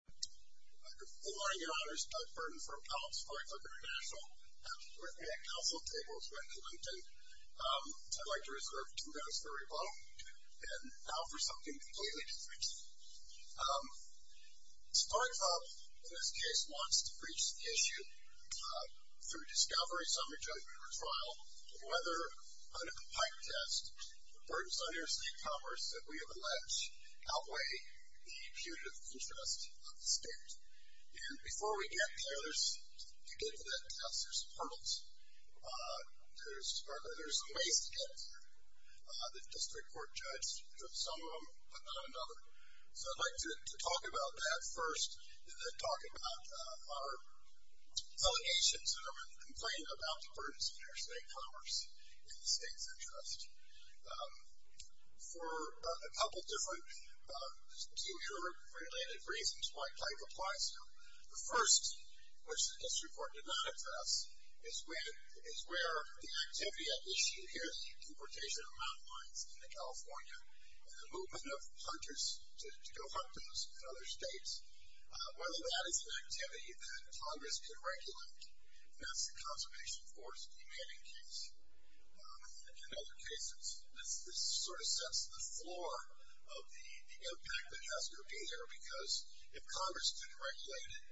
Good morning and honors, Doug Burton from Kellogg's Spark Club Int'l. We're at Council Tables in Clinton. I'd like to reserve two minutes for a rebuttal, and now for something completely different. Spark Club, in this case, wants to breach the issue through discovery, summary judgment, or trial of whether, under the Pike test, the burdens on interstate commerce that we have alleged outweigh the punitive interest of the state. And before we get there, to get to that test, there's hurdles. There's ways to get there. The district court judged some of them, but not another. So I'd like to talk about that first, and then talk about our allegations and our complaint about the burdens of interstate commerce in the state's interest. For a couple of different future-related reasons why Pike applies here. The first, which the district court did not address, is where the activity at issue here, the importation of mountain lions into California, and the movement of hunters to go hunt those in other states, whether that is an activity that Congress can regulate, and that's the Conservation Force demanding case. In other cases, this sort of sets the floor of the impact that has to be there, because if Congress couldn't regulate it,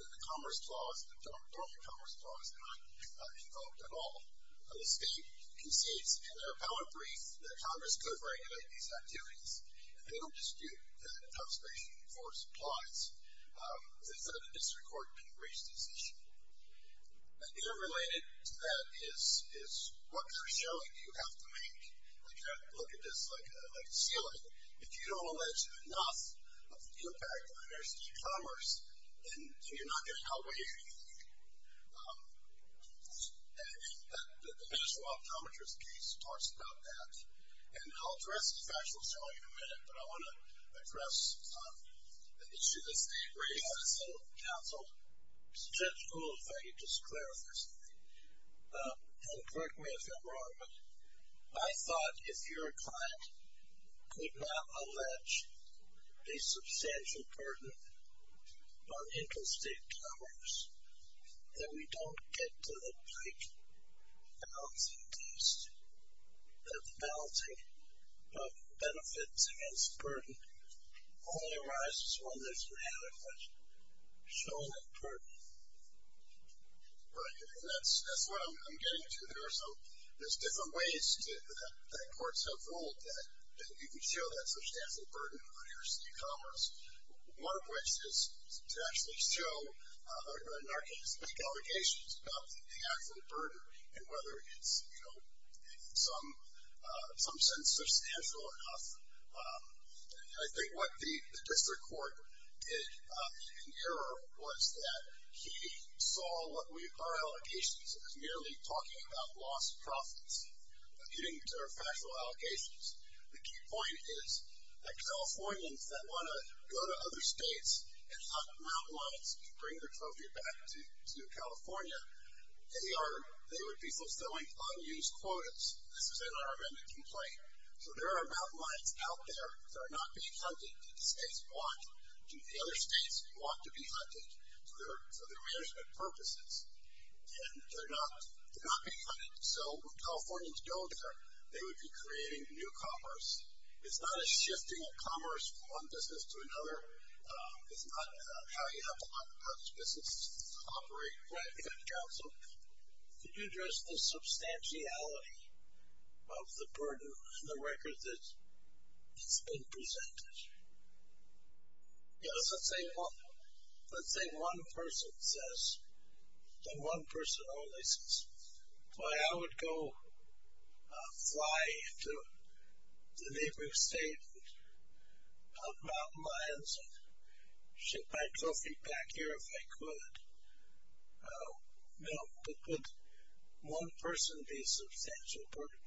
the Commerce Clause, the normal Commerce Clause, is not developed at all. The state concedes, in their appellate brief, that Congress could regulate these activities, and they don't dispute that Conservation Force applies. They said the district court didn't raise this issue. Interrelated to that is what kind of showing do you have to make? Look at this like a ceiling. If you don't allege enough of the impact of interstate commerce, then you're not going to outweigh anything. The National Optometrist case talks about that, and I'll address this factually shortly in a minute, but I want to address the issue that's being raised by the Senate Council. Mr. Judge Gould, if I could just clarify something, and correct me if I'm wrong, but I thought if your client could not allege a substantial burden on interstate commerce, that we don't get to the pike balancing piece. The balancing of benefits against burden only arises when there's an adequate showing of burden. In some sense, substantial enough. I think what the district court did in error was that he saw our allegations as merely talking about lost profits, getting to our factual allocations. The key point is that Californians that want to go to other states and hunt mountain lions to bring their trophy back to California, they would be fulfilling unused quotas. This is in our amended complaint. So there are mountain lions out there that are not being hunted. The states want to, the other states want to be hunted for their management purposes, and they're not being hunted. So when Californians go there, they would be creating new commerce. It's not a shifting of commerce from one business to another. It's not how you have to run a business to operate. Right. Counsel, could you address the substantiality of the burden in the record that's been presented? Yes, let's say one person says, let's say one person only says, boy, I would go fly to the neighboring state and hunt mountain lions and ship my trophy back here if I could. Now, could one person be substantial burden?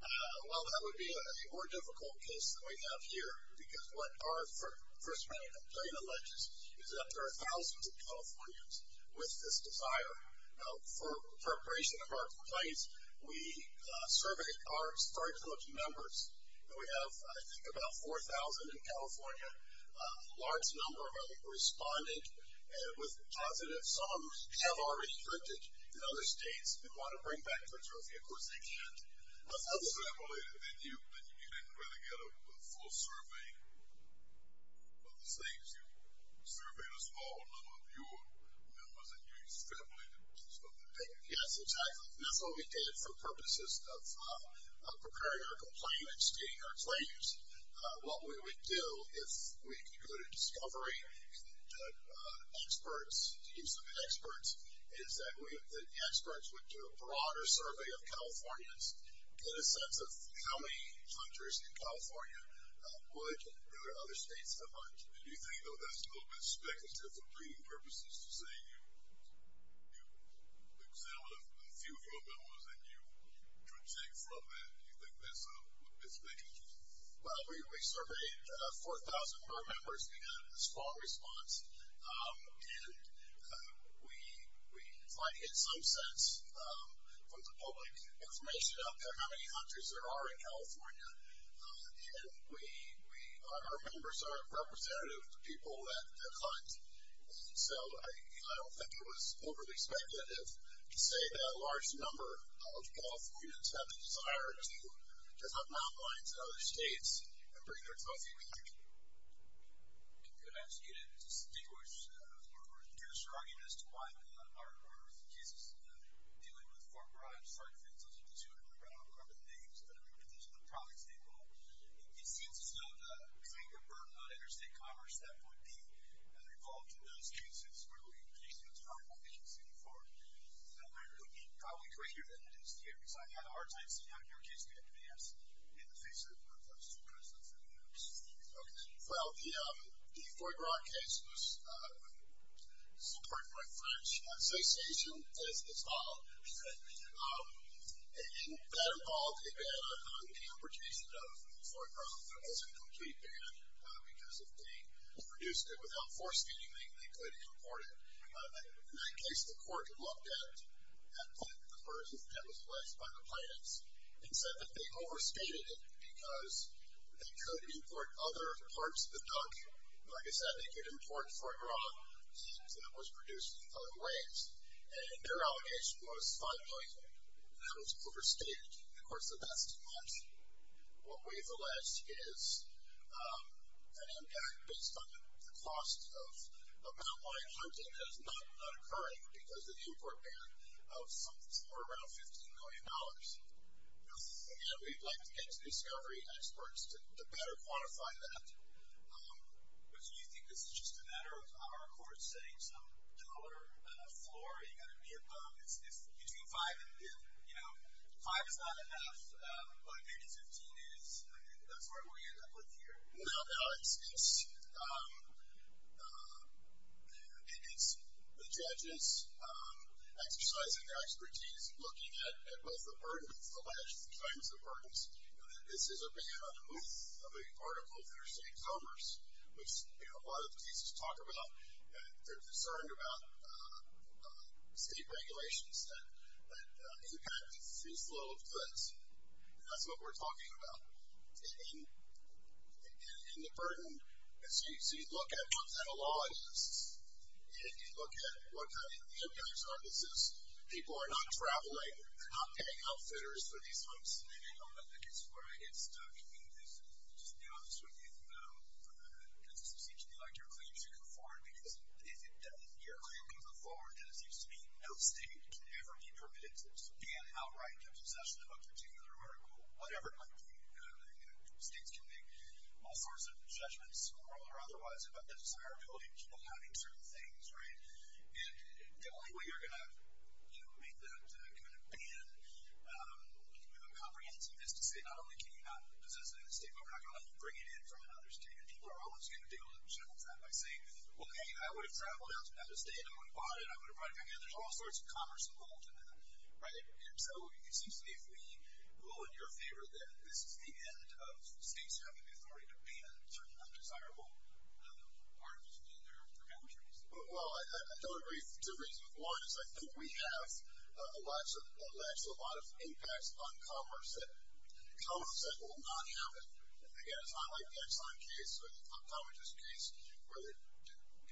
Well, that would be a more difficult case than we have here, because what our first round of complaint alleges is that there are thousands of Californians with this desire. Now, for the preparation of our complaints, we surveyed our start coaching members, and we have, I think, about 4,000 in California. A large number of them responded with positive. Some of them have already printed in other states and want to bring back their trophy. Of course, they can't. You didn't really get a full survey of the states. You surveyed a small number of your members, and you established a business. Yes, exactly. That's what we did for purposes of preparing our complaints, stating our claims. What we would do if we could go to discovery experts, teams of experts, is that experts would do a broader survey of Californians, get a sense of how many hunters in California would, and other states, have hunted. Do you think, though, that's a little bit speculative for breeding purposes, to say you examined a few of your members and you could take from that? Do you think that's a little bit speculative? Well, we surveyed 4,000 of our members. We got a small response, and we tried to get some sense from the public information out there how many hunters there are in California, and our members are representative of the people that hunt. So, I don't think it was overly speculative to say that a large number of Californians have a desire to hunt mountain lions in other states and bring their trophy back. I'm going to ask you to distinguish or use your argument as to why our case is dealing with farm-bribe strike offenses, because you remember, I don't remember the names, but I remember the names of the products they bought. It seems as though the claim to burden on interstate commerce that would be involved in those cases, where we can't use farm-bribes anymore, that might really be probably greater than it is here, because I've had a hard time seeing how your case could advance in the face of those two precedents that we have. Well, the Foie Gras case was supported by the French Association as a result, and that involved a ban on the importation of Foie Gras. There was a complete ban, because if they produced it without forcing anything, they could import it. In that case, the court looked at the person that was alleged by the plaintiffs and said that they overstated it because they could import other parts of the duck. Like I said, they could import Foie Gras, and that was produced in other ways. And their allegation was, finally, that it was overstated. Of course, that's too much. What we've alleged is an impact based on the cost of mountain lion hunting that is not occurring because of the import ban of something somewhere around $15 million. And we'd like to get to discovery experts to better quantify that. But do you think this is just a matter of our court setting some dollar floor? Are you going to be above? If between 5 and, you know, 5 is not enough, but maybe 15 is, I mean, that's where we end up with here. No, no, it's the judges exercising their expertise, looking at both the burdens, alleged kinds of burdens. You know, this is a big article for the same comers, which, you know, a lot of cases talk about. They're concerned about state regulations that impact this flow of goods. That's what we're talking about. And the burden, so you look at what kind of law it is, and you look at what kind of impact services people are not traveling, not getting health centers for these folks. And I don't think it's where I get stuck. I mean, just to be honest with you, though, this seems to be like your claim to conform, because if your claim to conform, then it seems to me no state can ever be permitted to ban outright the possession of a particular article, whatever it might be. You know, states can make all sorts of judgments, moral or otherwise, about the desirability of people having certain things, right? And the only way you're going to, you know, make that kind of ban comprehensive is to say, not only can you not possess it in the state, but we're not going to let you bring it in from another state. And people are always going to deal with that by saying, well, hey, I would have traveled out to another state. I would have bought it. I would have brought it back in. There's all sorts of commerce involved in that, right? And so it seems to me we rule in your favor that this is the end of states having the authority to ban certain undesirable articles in their documentaries. Well, I don't agree for two reasons. One is I think we have a lot of impacts on commerce that will not happen. Again, it's not like the Exxon case or the Commerz case where the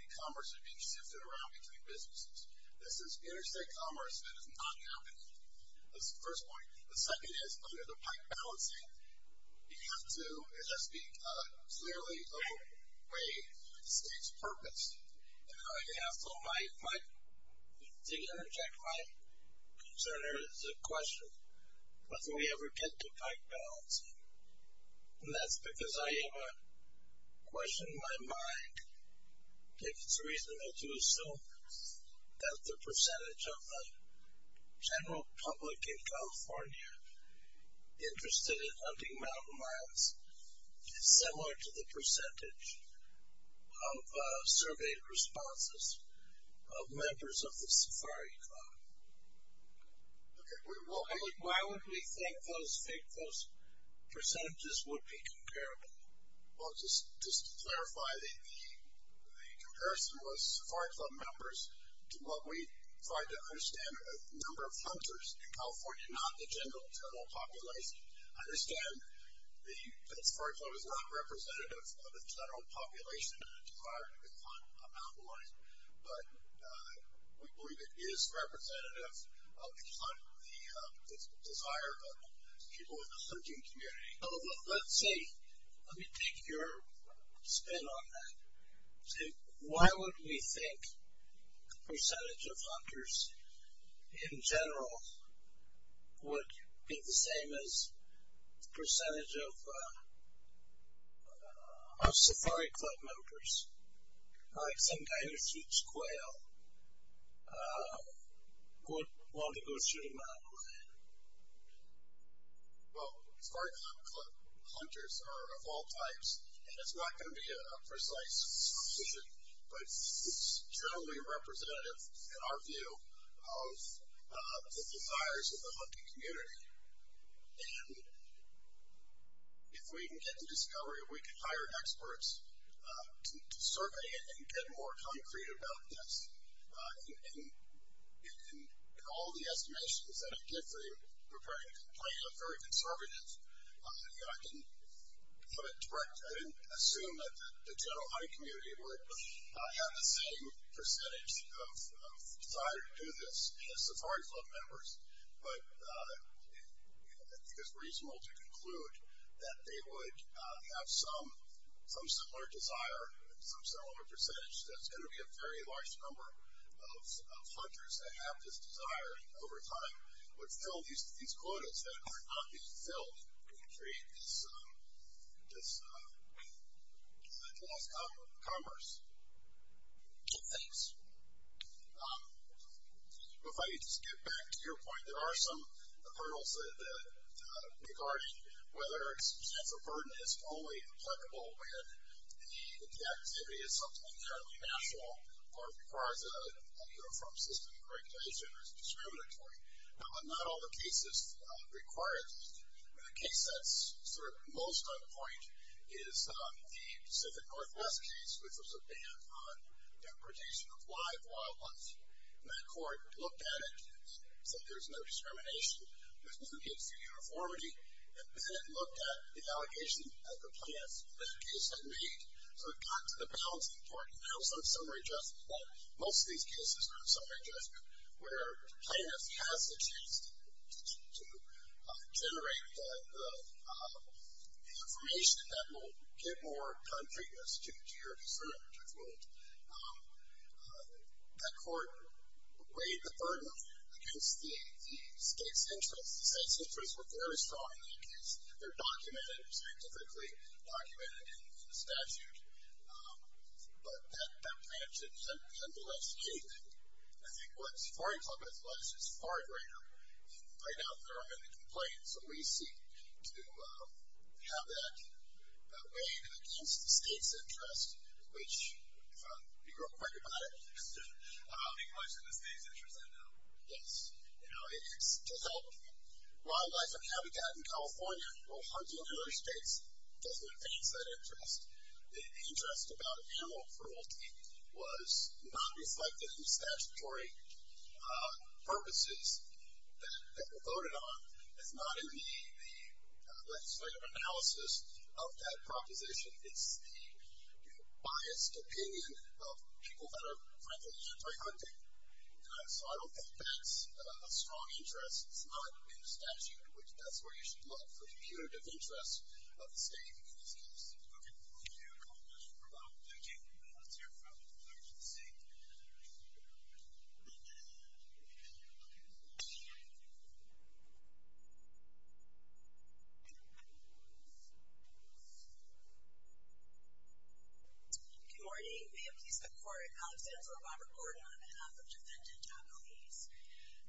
commerce is being shifted around between businesses. This is interstate commerce that is not happening. That's the first point. The second is under the pike balancing, you have to, as I speak, clearly overweigh the state's purpose. And I have to interject my concern or question. When can we ever get to pike balancing? And that's because I have a question in my mind. If it's reasonable to assume that the percentage of the general public in California interested in hunting mountain lions is similar to the percentage of surveyed responses of members of the safari club. Why would we think those percentages would be comparable? Well, just to clarify, the comparison was safari club members to what we tried to understand was the number of hunters in California, not the general population. I understand that the safari club is not representative of the general population that desired to hunt a mountain lion, but we believe it is representative of the desire of people in the hunting community. Let me take your spin on that. Why would we think the percentage of hunters in general would be the same as the percentage of safari club members, like some guy who shoots quail, would want to go shoot a mountain lion? Well, safari club hunters are of all types, and it's not going to be a precise solution, but it's generally representative, in our view, of the desires of the hunting community. And if we can get to discovery, we can hire experts to survey it and get more concrete about this. In all the estimations that I've given, preparing a complaint of very conservative, I didn't assume that the general hunting community would have the same percentage of desire to do this as safari club members, but I think it's reasonable to conclude that they would have some similar desire, some similar percentage, that it's going to be a very large number of hunters that have this desire, and over time would fill these quotas that are not being filled to create this loss of commerce. Thanks. If I could just get back to your point, there are some hurdles regarding whether it's a burden. It's only applicable when the activity is something entirely natural, or requires a uniform system of regulation or is discriminatory. Now, not all the cases require this. The case that's sort of most on point is the Pacific Northwest case, which was a ban on deportation of live wildlife. And that court looked at it, said there's no discrimination, there's no need for uniformity, and then it looked at the allegations that the plaintiffs in that case had made. So it got to the balancing part, and now it's on summary adjustment, that most of these cases are on summary adjustment, where the plaintiff has the chance to generate the information that will give more concreteness to your concern. That court weighed the burden against the state's interests. The state's interests were very strong in that case. They're documented scientifically, documented in the statute. But that plaintiff shouldn't be able to escape it. I think what Safari Club has lost is far greater. Right now, there are many complaints, and we seek to have that weighed against the state's interests, which, if I can be real quick about it. The question is the state's interests, I know. Yes. You know, it's to help wildlife and habitat in California. Well, hunting in other states doesn't advance that interest. The interest about animal cruelty was not reflected in statutory purposes that were voted on. It's not in the legislative analysis of that proposition. It's the biased opinion of people that are, frankly, into hunting. So I don't think that's a strong interest. It's not in the statute, which that's where you should look for punitive interest of the state in these cases. Okay. Thank you very much for that. Thank you. Let's hear from the other agency. Good morning. May it please the Court. Alexander Robert Gordon on behalf of Defendant Accomplice.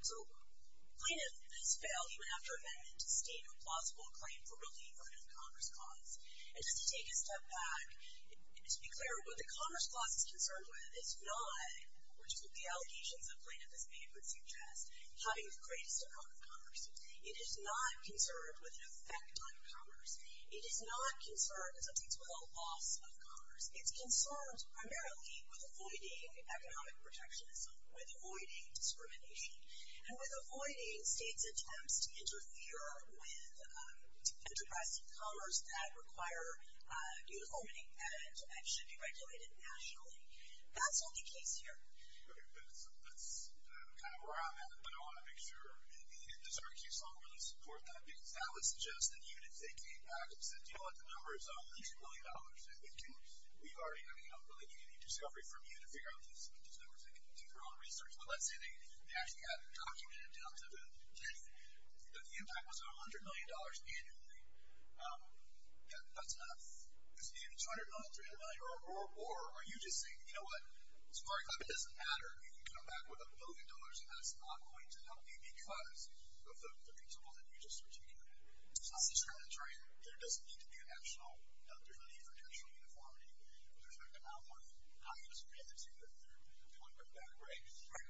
So plaintiff has failed, even after amendment, to state a plausible claim for realty-inverted commerce clause. And just to take a step back, to be clear, what the commerce clause is concerned with is not, which is what the allegations that plaintiff has made would suggest, having the greatest amount of commerce. It is not concerned with an effect on commerce. It is not concerned, as it thinks, with a loss of commerce. It's concerned primarily with avoiding economic protectionism, with avoiding discrimination, and with avoiding states' attempts to interfere with interested commerce that require uniformity and should be regulated nationally. That's not the case here. That's kind of where I'm at. But I want to make sure. Does our case longer support that? Because that would suggest that even if they came back and said, you know what, the number is $100 million. And we've already, I mean, I'm really giving you discovery from you to figure out these numbers. They can do their own research. But let's say they actually had it documented down to the tenth, that the impact was $100 million annually. Yeah, that's enough. It's $200 million, $300 million. Or are you just saying, you know what, as far as I'm concerned, it doesn't matter. You can come back with a million dollars, and that's not going to help you because of the principle that you just articulated. It's not discriminatory. There doesn't need to be a national, there's no need for national uniformity with respect to how you discriminate. We want to put it that way.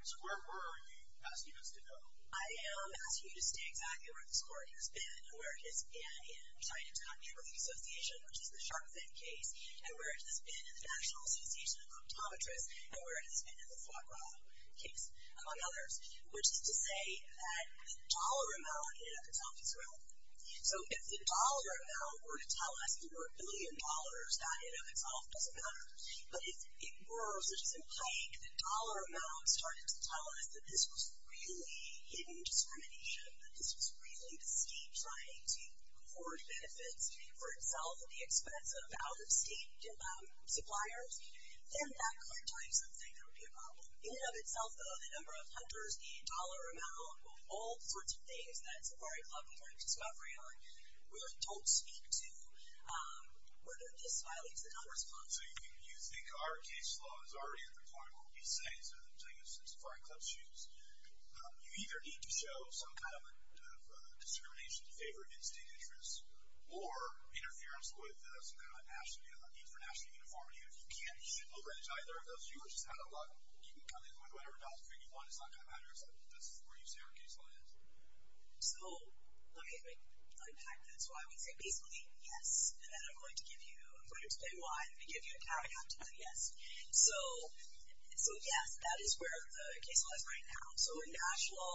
So where are you asking us to go? I am asking you to stay exactly where this court has been, and where it has been in trying to document with the association, which is the Sharpe-Finn case, and where it has been in the National Association of Optometrists, and where it has been in the Foie Gras case, among others, which is to say that the dollar amount ended up itself as relevant. So if the dollar amount were to tell us there were a billion dollars, that in and of itself doesn't matter. But if it were, such as in Pike, the dollar amount started to tell us that this was really hidden discrimination, that this was really the state trying to afford benefits for itself at the expense of out-of-state suppliers, then that could tell you something that would be a problem. In and of itself, though, the number of hunters, the dollar amount, all sorts of things that Safari Club is already a discovery on, really don't speak to whether this violates the numbers clause. So you think our case law is already at the point where we say, so the thing that Safari Club chooses, you either need to show some kind of discrimination in favor of in-state interests, or interference with some kind of international uniformity. If you can't, you shouldn't over-adjudge either of those. You were just out of luck. You can come in with whatever dollars you want. It's not going to matter if that's where you say our case law is. So let me unpack that. So I would say basically, yes. And then I'm going to give you, I'm going to explain why. I'm going to give you a paragraph to say yes. So yes, that is where the case law is right now. So international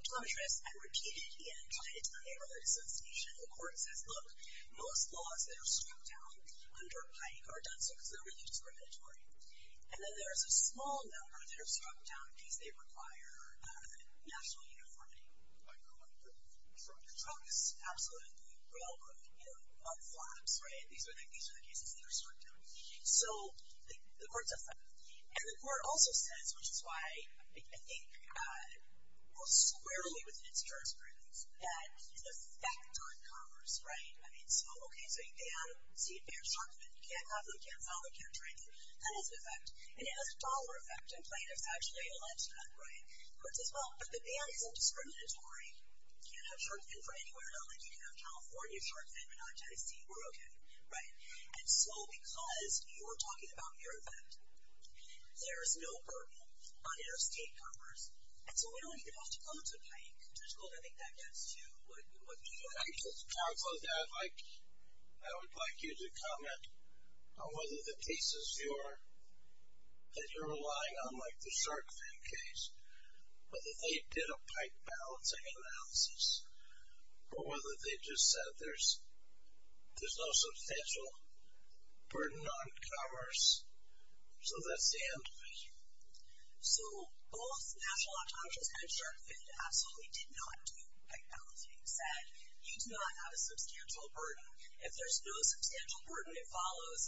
optometrists have repeated and tied it to the neighborhood association. The court says, look, most laws that are struck down under Pike are done so because they're really discriminatory. And then there's a small number that are struck down in case they require national uniformity. Like the trucks, absolutely. Railroad, you know, on farms, right? These are the cases that are struck down. So the court says that. And the court also says, which is why I think most squarely within its jurisprudence, that the fact on Congress, right? I mean, so, okay, so you ban sea bears, shark fin. You can't have them. You can't sell them. You can't trade them. That has an effect. And it has a dollar effect. And plaintiffs actually allege that, right? The court says, well, but the ban isn't discriminatory. You can't have shark fin for anywhere. Not like you can have California shark fin, but not Tennessee. We're okay. Right? And so because you're talking about your effect, there is no burden on interstate comers. And so we don't even have to go to Pike. I would like you to comment on whether the cases that you're relying on, like the shark fin case, whether they did a Pike balancing analysis, or whether they just said there's no substantial burden on comers, so that's the end of it. So both National Autonomous and shark fin absolutely did not do Pike balancing, said you do not have a substantial burden. If there's no substantial burden that follows,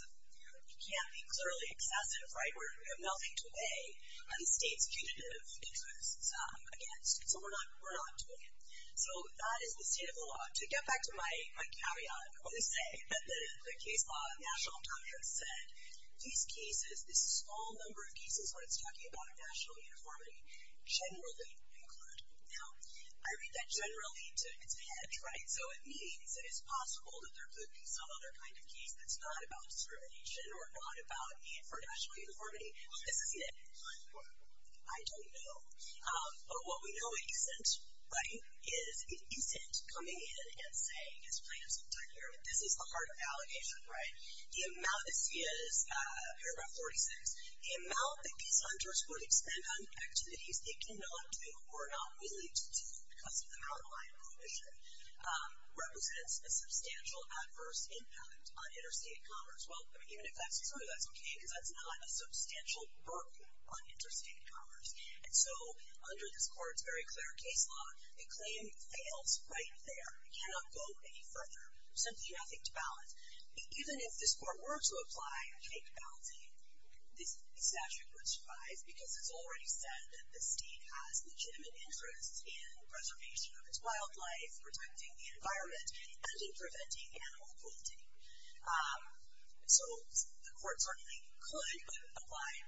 it can't be clearly excessive, right? We have nothing to weigh on the state's punitive interests against, so we're not doing it. So that is the state of the law. To get back to my caveat on this day, the case law of National Autonomous said these cases, this small number of cases, when it's talking about a national uniformity, generally include. Now, I read that generally to its head, right? So it means it is possible that there could be some other kind of case that's not about discrimination or not about need for national uniformity. This isn't it. I don't know. But what we know it isn't, right, is it isn't coming in and saying, as plaintiffs have done here, this is the heart of the allegation, right? The amount, this is paragraph 46. The amount that these hunters would expend on activities they cannot do or are not willing to do because of their outlying position represents a substantial adverse impact on interstate commerce. Well, even if that's true, that's okay, because that's not a substantial burden on interstate commerce. And so under this court's very clear case law, the claim fails right there. It cannot go any further. There's simply nothing to balance. Even if this court were to apply a cake balancing, this statute would survive because it's already said that the state has legitimate interests in preservation of its wildlife, protecting the environment, and in preventing animal cruelty. So the court certainly could apply a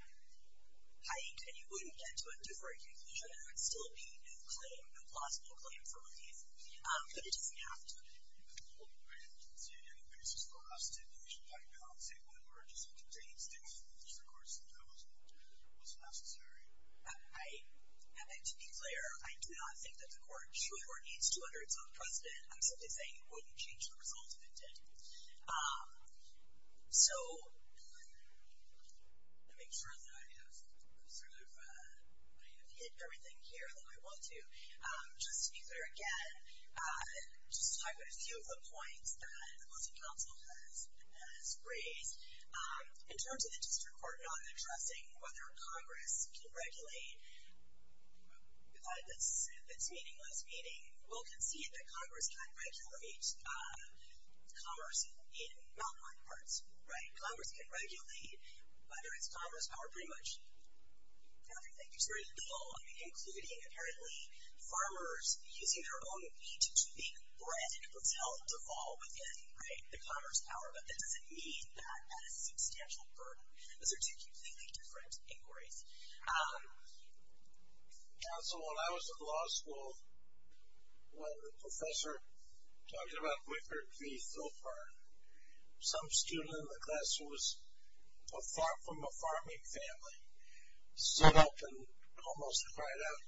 cake, and you wouldn't get to a deferred conclusion. There would still be no claim, no plausible claim for relief. But it doesn't have to. So even if the court were to concede any basis for that statute, you should not be able to say whether or not it just contains the interest of the courts that that was necessary. To be clear, I do not think that the court should or needs to utter its own precedent. I'm simply saying it wouldn't change the result if it did. So to make sure that I have sort of hit everything here that I want to, just to be clear again, just to talk about a few of the points that the Voting Council has raised. In terms of the district court not addressing whether Congress can regulate its meaningless meeting, we'll concede that Congress can regulate commerce in mountain-like parts, right? Congress can regulate whether it's commerce or pretty much everything. Including, apparently, farmers using their own meat to make bread and it was held to fall within the commerce power, but that doesn't mean that that is a substantial burden. Those are two completely different inquiries. Counsel, when I was in law school, when a professor talked about whippered beef, some student in the class who was from a farming family stood up and almost cried out,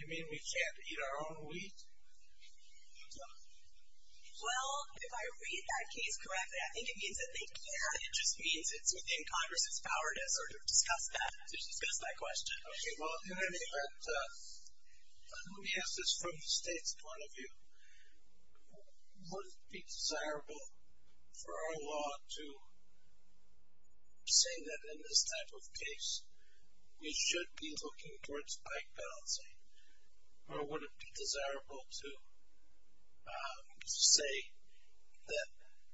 you mean we can't eat our own wheat? No. Well, if I read that case correctly, I think it means that they can. It just means it's within Congress's power to sort of discuss that, to discuss that question. Okay, well, in any event, let me ask this from the state's point of view. Would it be desirable for our law to say that in this type of case, we should be looking towards bike balancing? Or would it be desirable to say that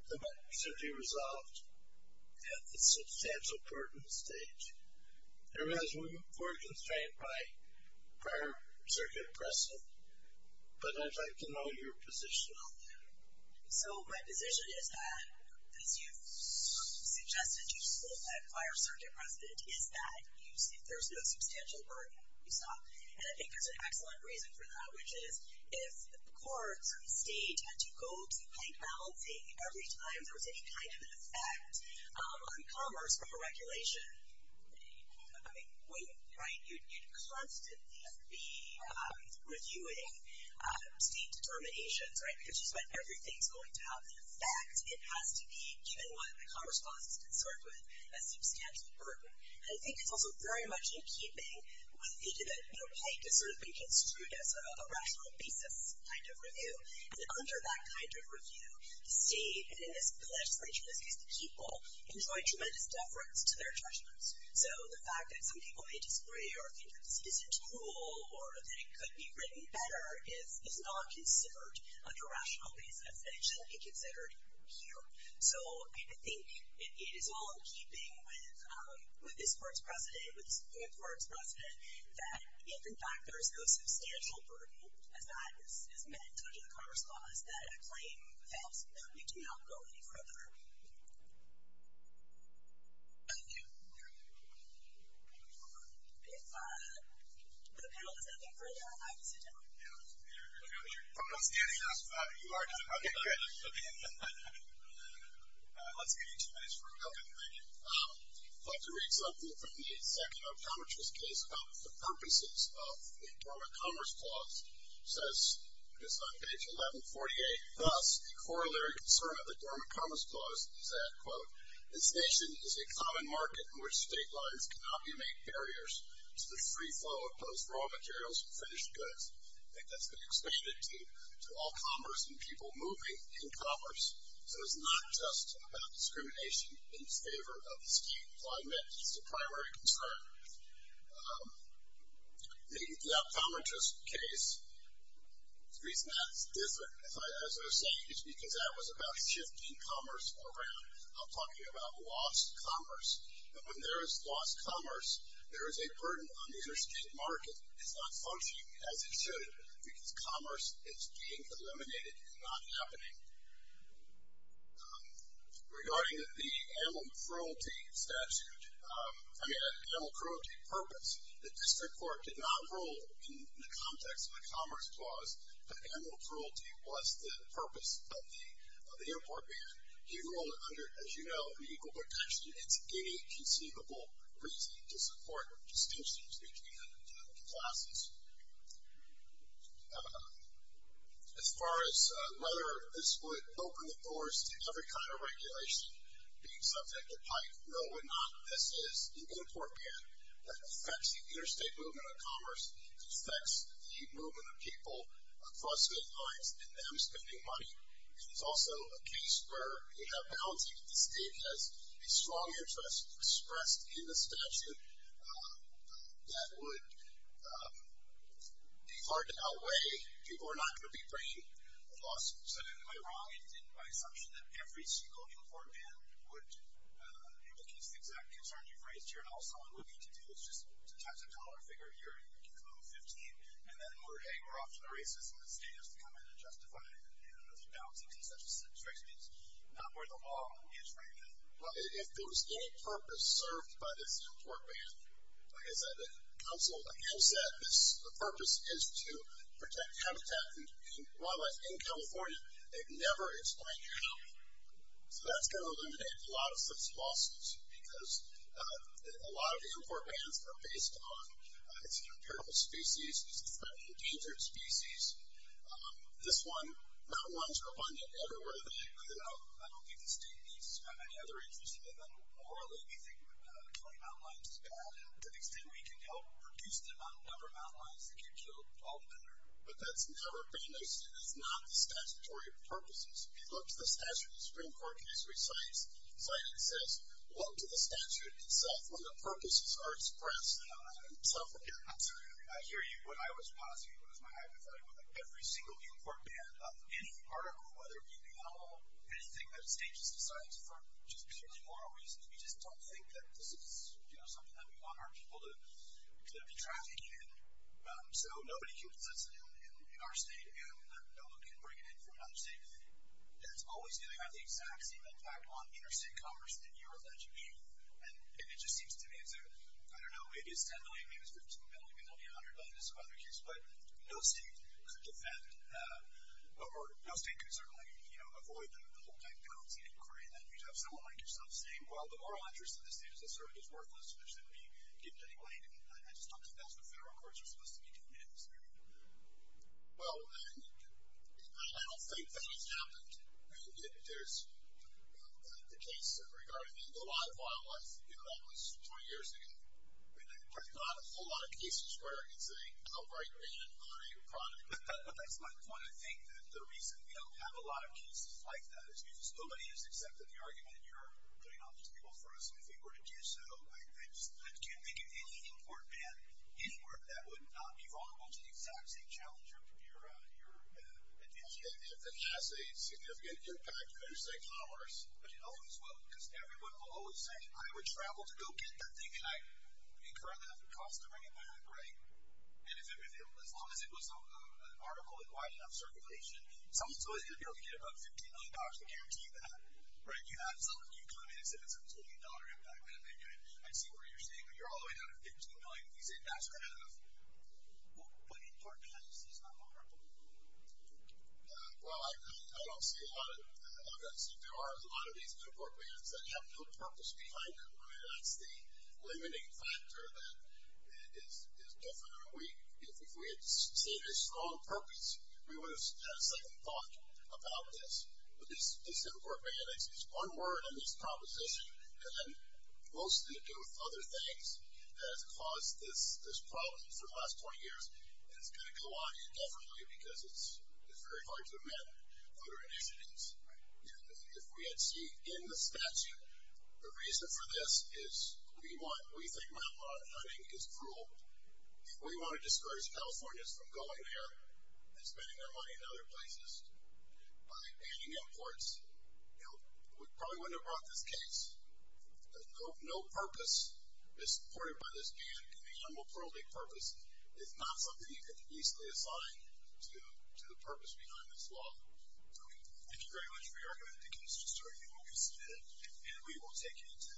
the matter should be resolved at the substantial burden stage? I realize we're constrained by prior circuit precedent, but I'd like to know your position on that. So my position is that, as you've suggested, you spoke at prior circuit precedent, is that there's no substantial burden. And I think there's an excellent reason for that, which is if the courts of the state had to go to bike balancing every time there was any kind of an effect on commerce or regulation, you'd constantly be reviewing state determinations, right, because you expect everything's going to have an effect. It has to be, given what the commerce clause is concerned with, a substantial burden. And I think it's also very much in keeping with the idea that, you know, bike has sort of been construed as a rational basis kind of review. And under that kind of review, the state, and in this case the people, enjoy tremendous deference to their judgments. So the fact that some people may disagree or think that this isn't true or that it could be written better is not considered under rational basis and it shouldn't be considered here. So I think it is all in keeping with this court's precedent, with this court's precedent, that if, in fact, there's no substantial burden as that is meant under the commerce clause, is that a claim that we do not go any further? Thank you. If the panel has nothing further, I can sit down. Yeah. You're probably standing up. You are just about to get up. Okay, good. Okay. Let's give you two minutes for a moment. Thank you. I'd like to read something from the second optometrist case about the corollary concern of the Dormant Commerce Clause is that, quote, this nation is a common market in which state lines can obfuscate barriers to the free flow of both raw materials and finished goods. I think that's been expanded to all commerce and people moving in commerce. So it's not just about discrimination in favor of skewed employment. It's a primary concern. The optometrist case, the reason that's different, as I was saying, is because that was about shifting commerce around. I'm talking about lost commerce. And when there is lost commerce, there is a burden on the interstate market. It's not functioning as it should because commerce is being eliminated and not happening. Regarding the animal cruelty statute, I mean, animal cruelty purpose, the district court did not rule in the context of the commerce clause that animal cruelty was the purpose of the import ban. He ruled under, as you know, the Equal Protection. It's any conceivable reason to support distinctions between classes. As far as whether this would open the doors to every kind of regulation being subject to PIPE, no, it would not. This is an import ban that affects the interstate movement of commerce, it affects the movement of people across state lines and them spending money. It's also a case where we have bounties that the state has a strong interest expressed in the statute that would be hard to outweigh. People are not going to be bringing a lawsuit. So am I wrong in my assumption that every single import ban would implicate the exact concern you've raised here and all someone would need to do and then we're, hey, we're off to the races and the state has to come in and justify it. And, you know, those are bounties in such a strict sense, not where the law is right now. Well, if there was any purpose served by this import ban, like I said, the council, like you said, the purpose is to protect habitat and wildlife in California. They've never explained how. So that's going to eliminate a lot of such lawsuits because a lot of the species is threatened, endangered species. This one, mountain lions are abundant everywhere. I don't think the state needs to have any other interest in them. Morally, we think killing mountain lions is bad to the extent we can help reduce the number of mountain lions that get killed all the time. But that's never been, it's not the statutory purposes. If you look at the statute, the Supreme Court case recites, citing says, look to the statute itself when the purposes are expressed. Yeah, absolutely. I hear you. When I was passing, it was my hypothetical, like every single import ban, any part of it, whether it be the animal, anything that the state just decides for just purely moral reasons, we just don't think that this is, you know, something that we want our people to be trafficking in. So nobody can possess it in our state, and no one can bring it in from another state. And it's always going to have the exact same impact on interstate commerce that you're alleging. And it just seems to me, it's a, I don't know, maybe it's $10 million, maybe it's $15 million, maybe it's only $100 million in some other case, but no state could defend, or no state could certainly, you know, avoid the whole-time penalty inquiry. Then you'd have someone like yourself saying, well, the moral interest of the state as a servant is worthless, so there shouldn't be given any money. I just don't think that's what federal courts are supposed to be doing in this area. Well, I don't think that has happened. There's the case regarding the law of wildlife, you know, that was 20 years ago. There's not a whole lot of cases where it's a outright ban on a product. That's my point. I think that the reason we don't have a lot of cases like that is because nobody has accepted the argument that you're putting on these people for us, and if we were to do so, I just can't think of any import ban anywhere that would not be vulnerable to the exact same challenge from your opinion. If it has a significant impact, when you say commerce, but you know as well, because everyone will always say, I would travel to go get that thing, and I incurred enough cost to bring it back, right? And as long as it was an article in wide enough circulation, someone's always going to be able to get about $15 million to guarantee that. Right? You have someone, you come in and say that's a $20 impact, and I see where you're staying, but you're all the way down to $15 million, and you say that's good enough. What import bans is not vulnerable? Well, I don't see a lot of them. There are a lot of these import bans that have no purpose behind them. I mean, that's the limiting factor that is different. If we had seen a strong purpose, we would have second thought about this. But this import ban, it's one word in this proposition, and then mostly to do with other things that have caused this problem for the last 20 years, and it's going to go on indefinitely because it's very hard to amend other initiatives. If we had seen in the statute, the reason for this is we want, we think map hunting is cruel. We want to discourage Californians from going there and spending their money in other places by banning imports. We probably wouldn't have brought this case. No purpose is supported by this ban. It can be a humble, plurally purpose. It's not something you can easily assign to the purpose behind this law. Okay, thank you very much for your argument. I think it was just a very good one. We've seen it, and we will take it into another recess.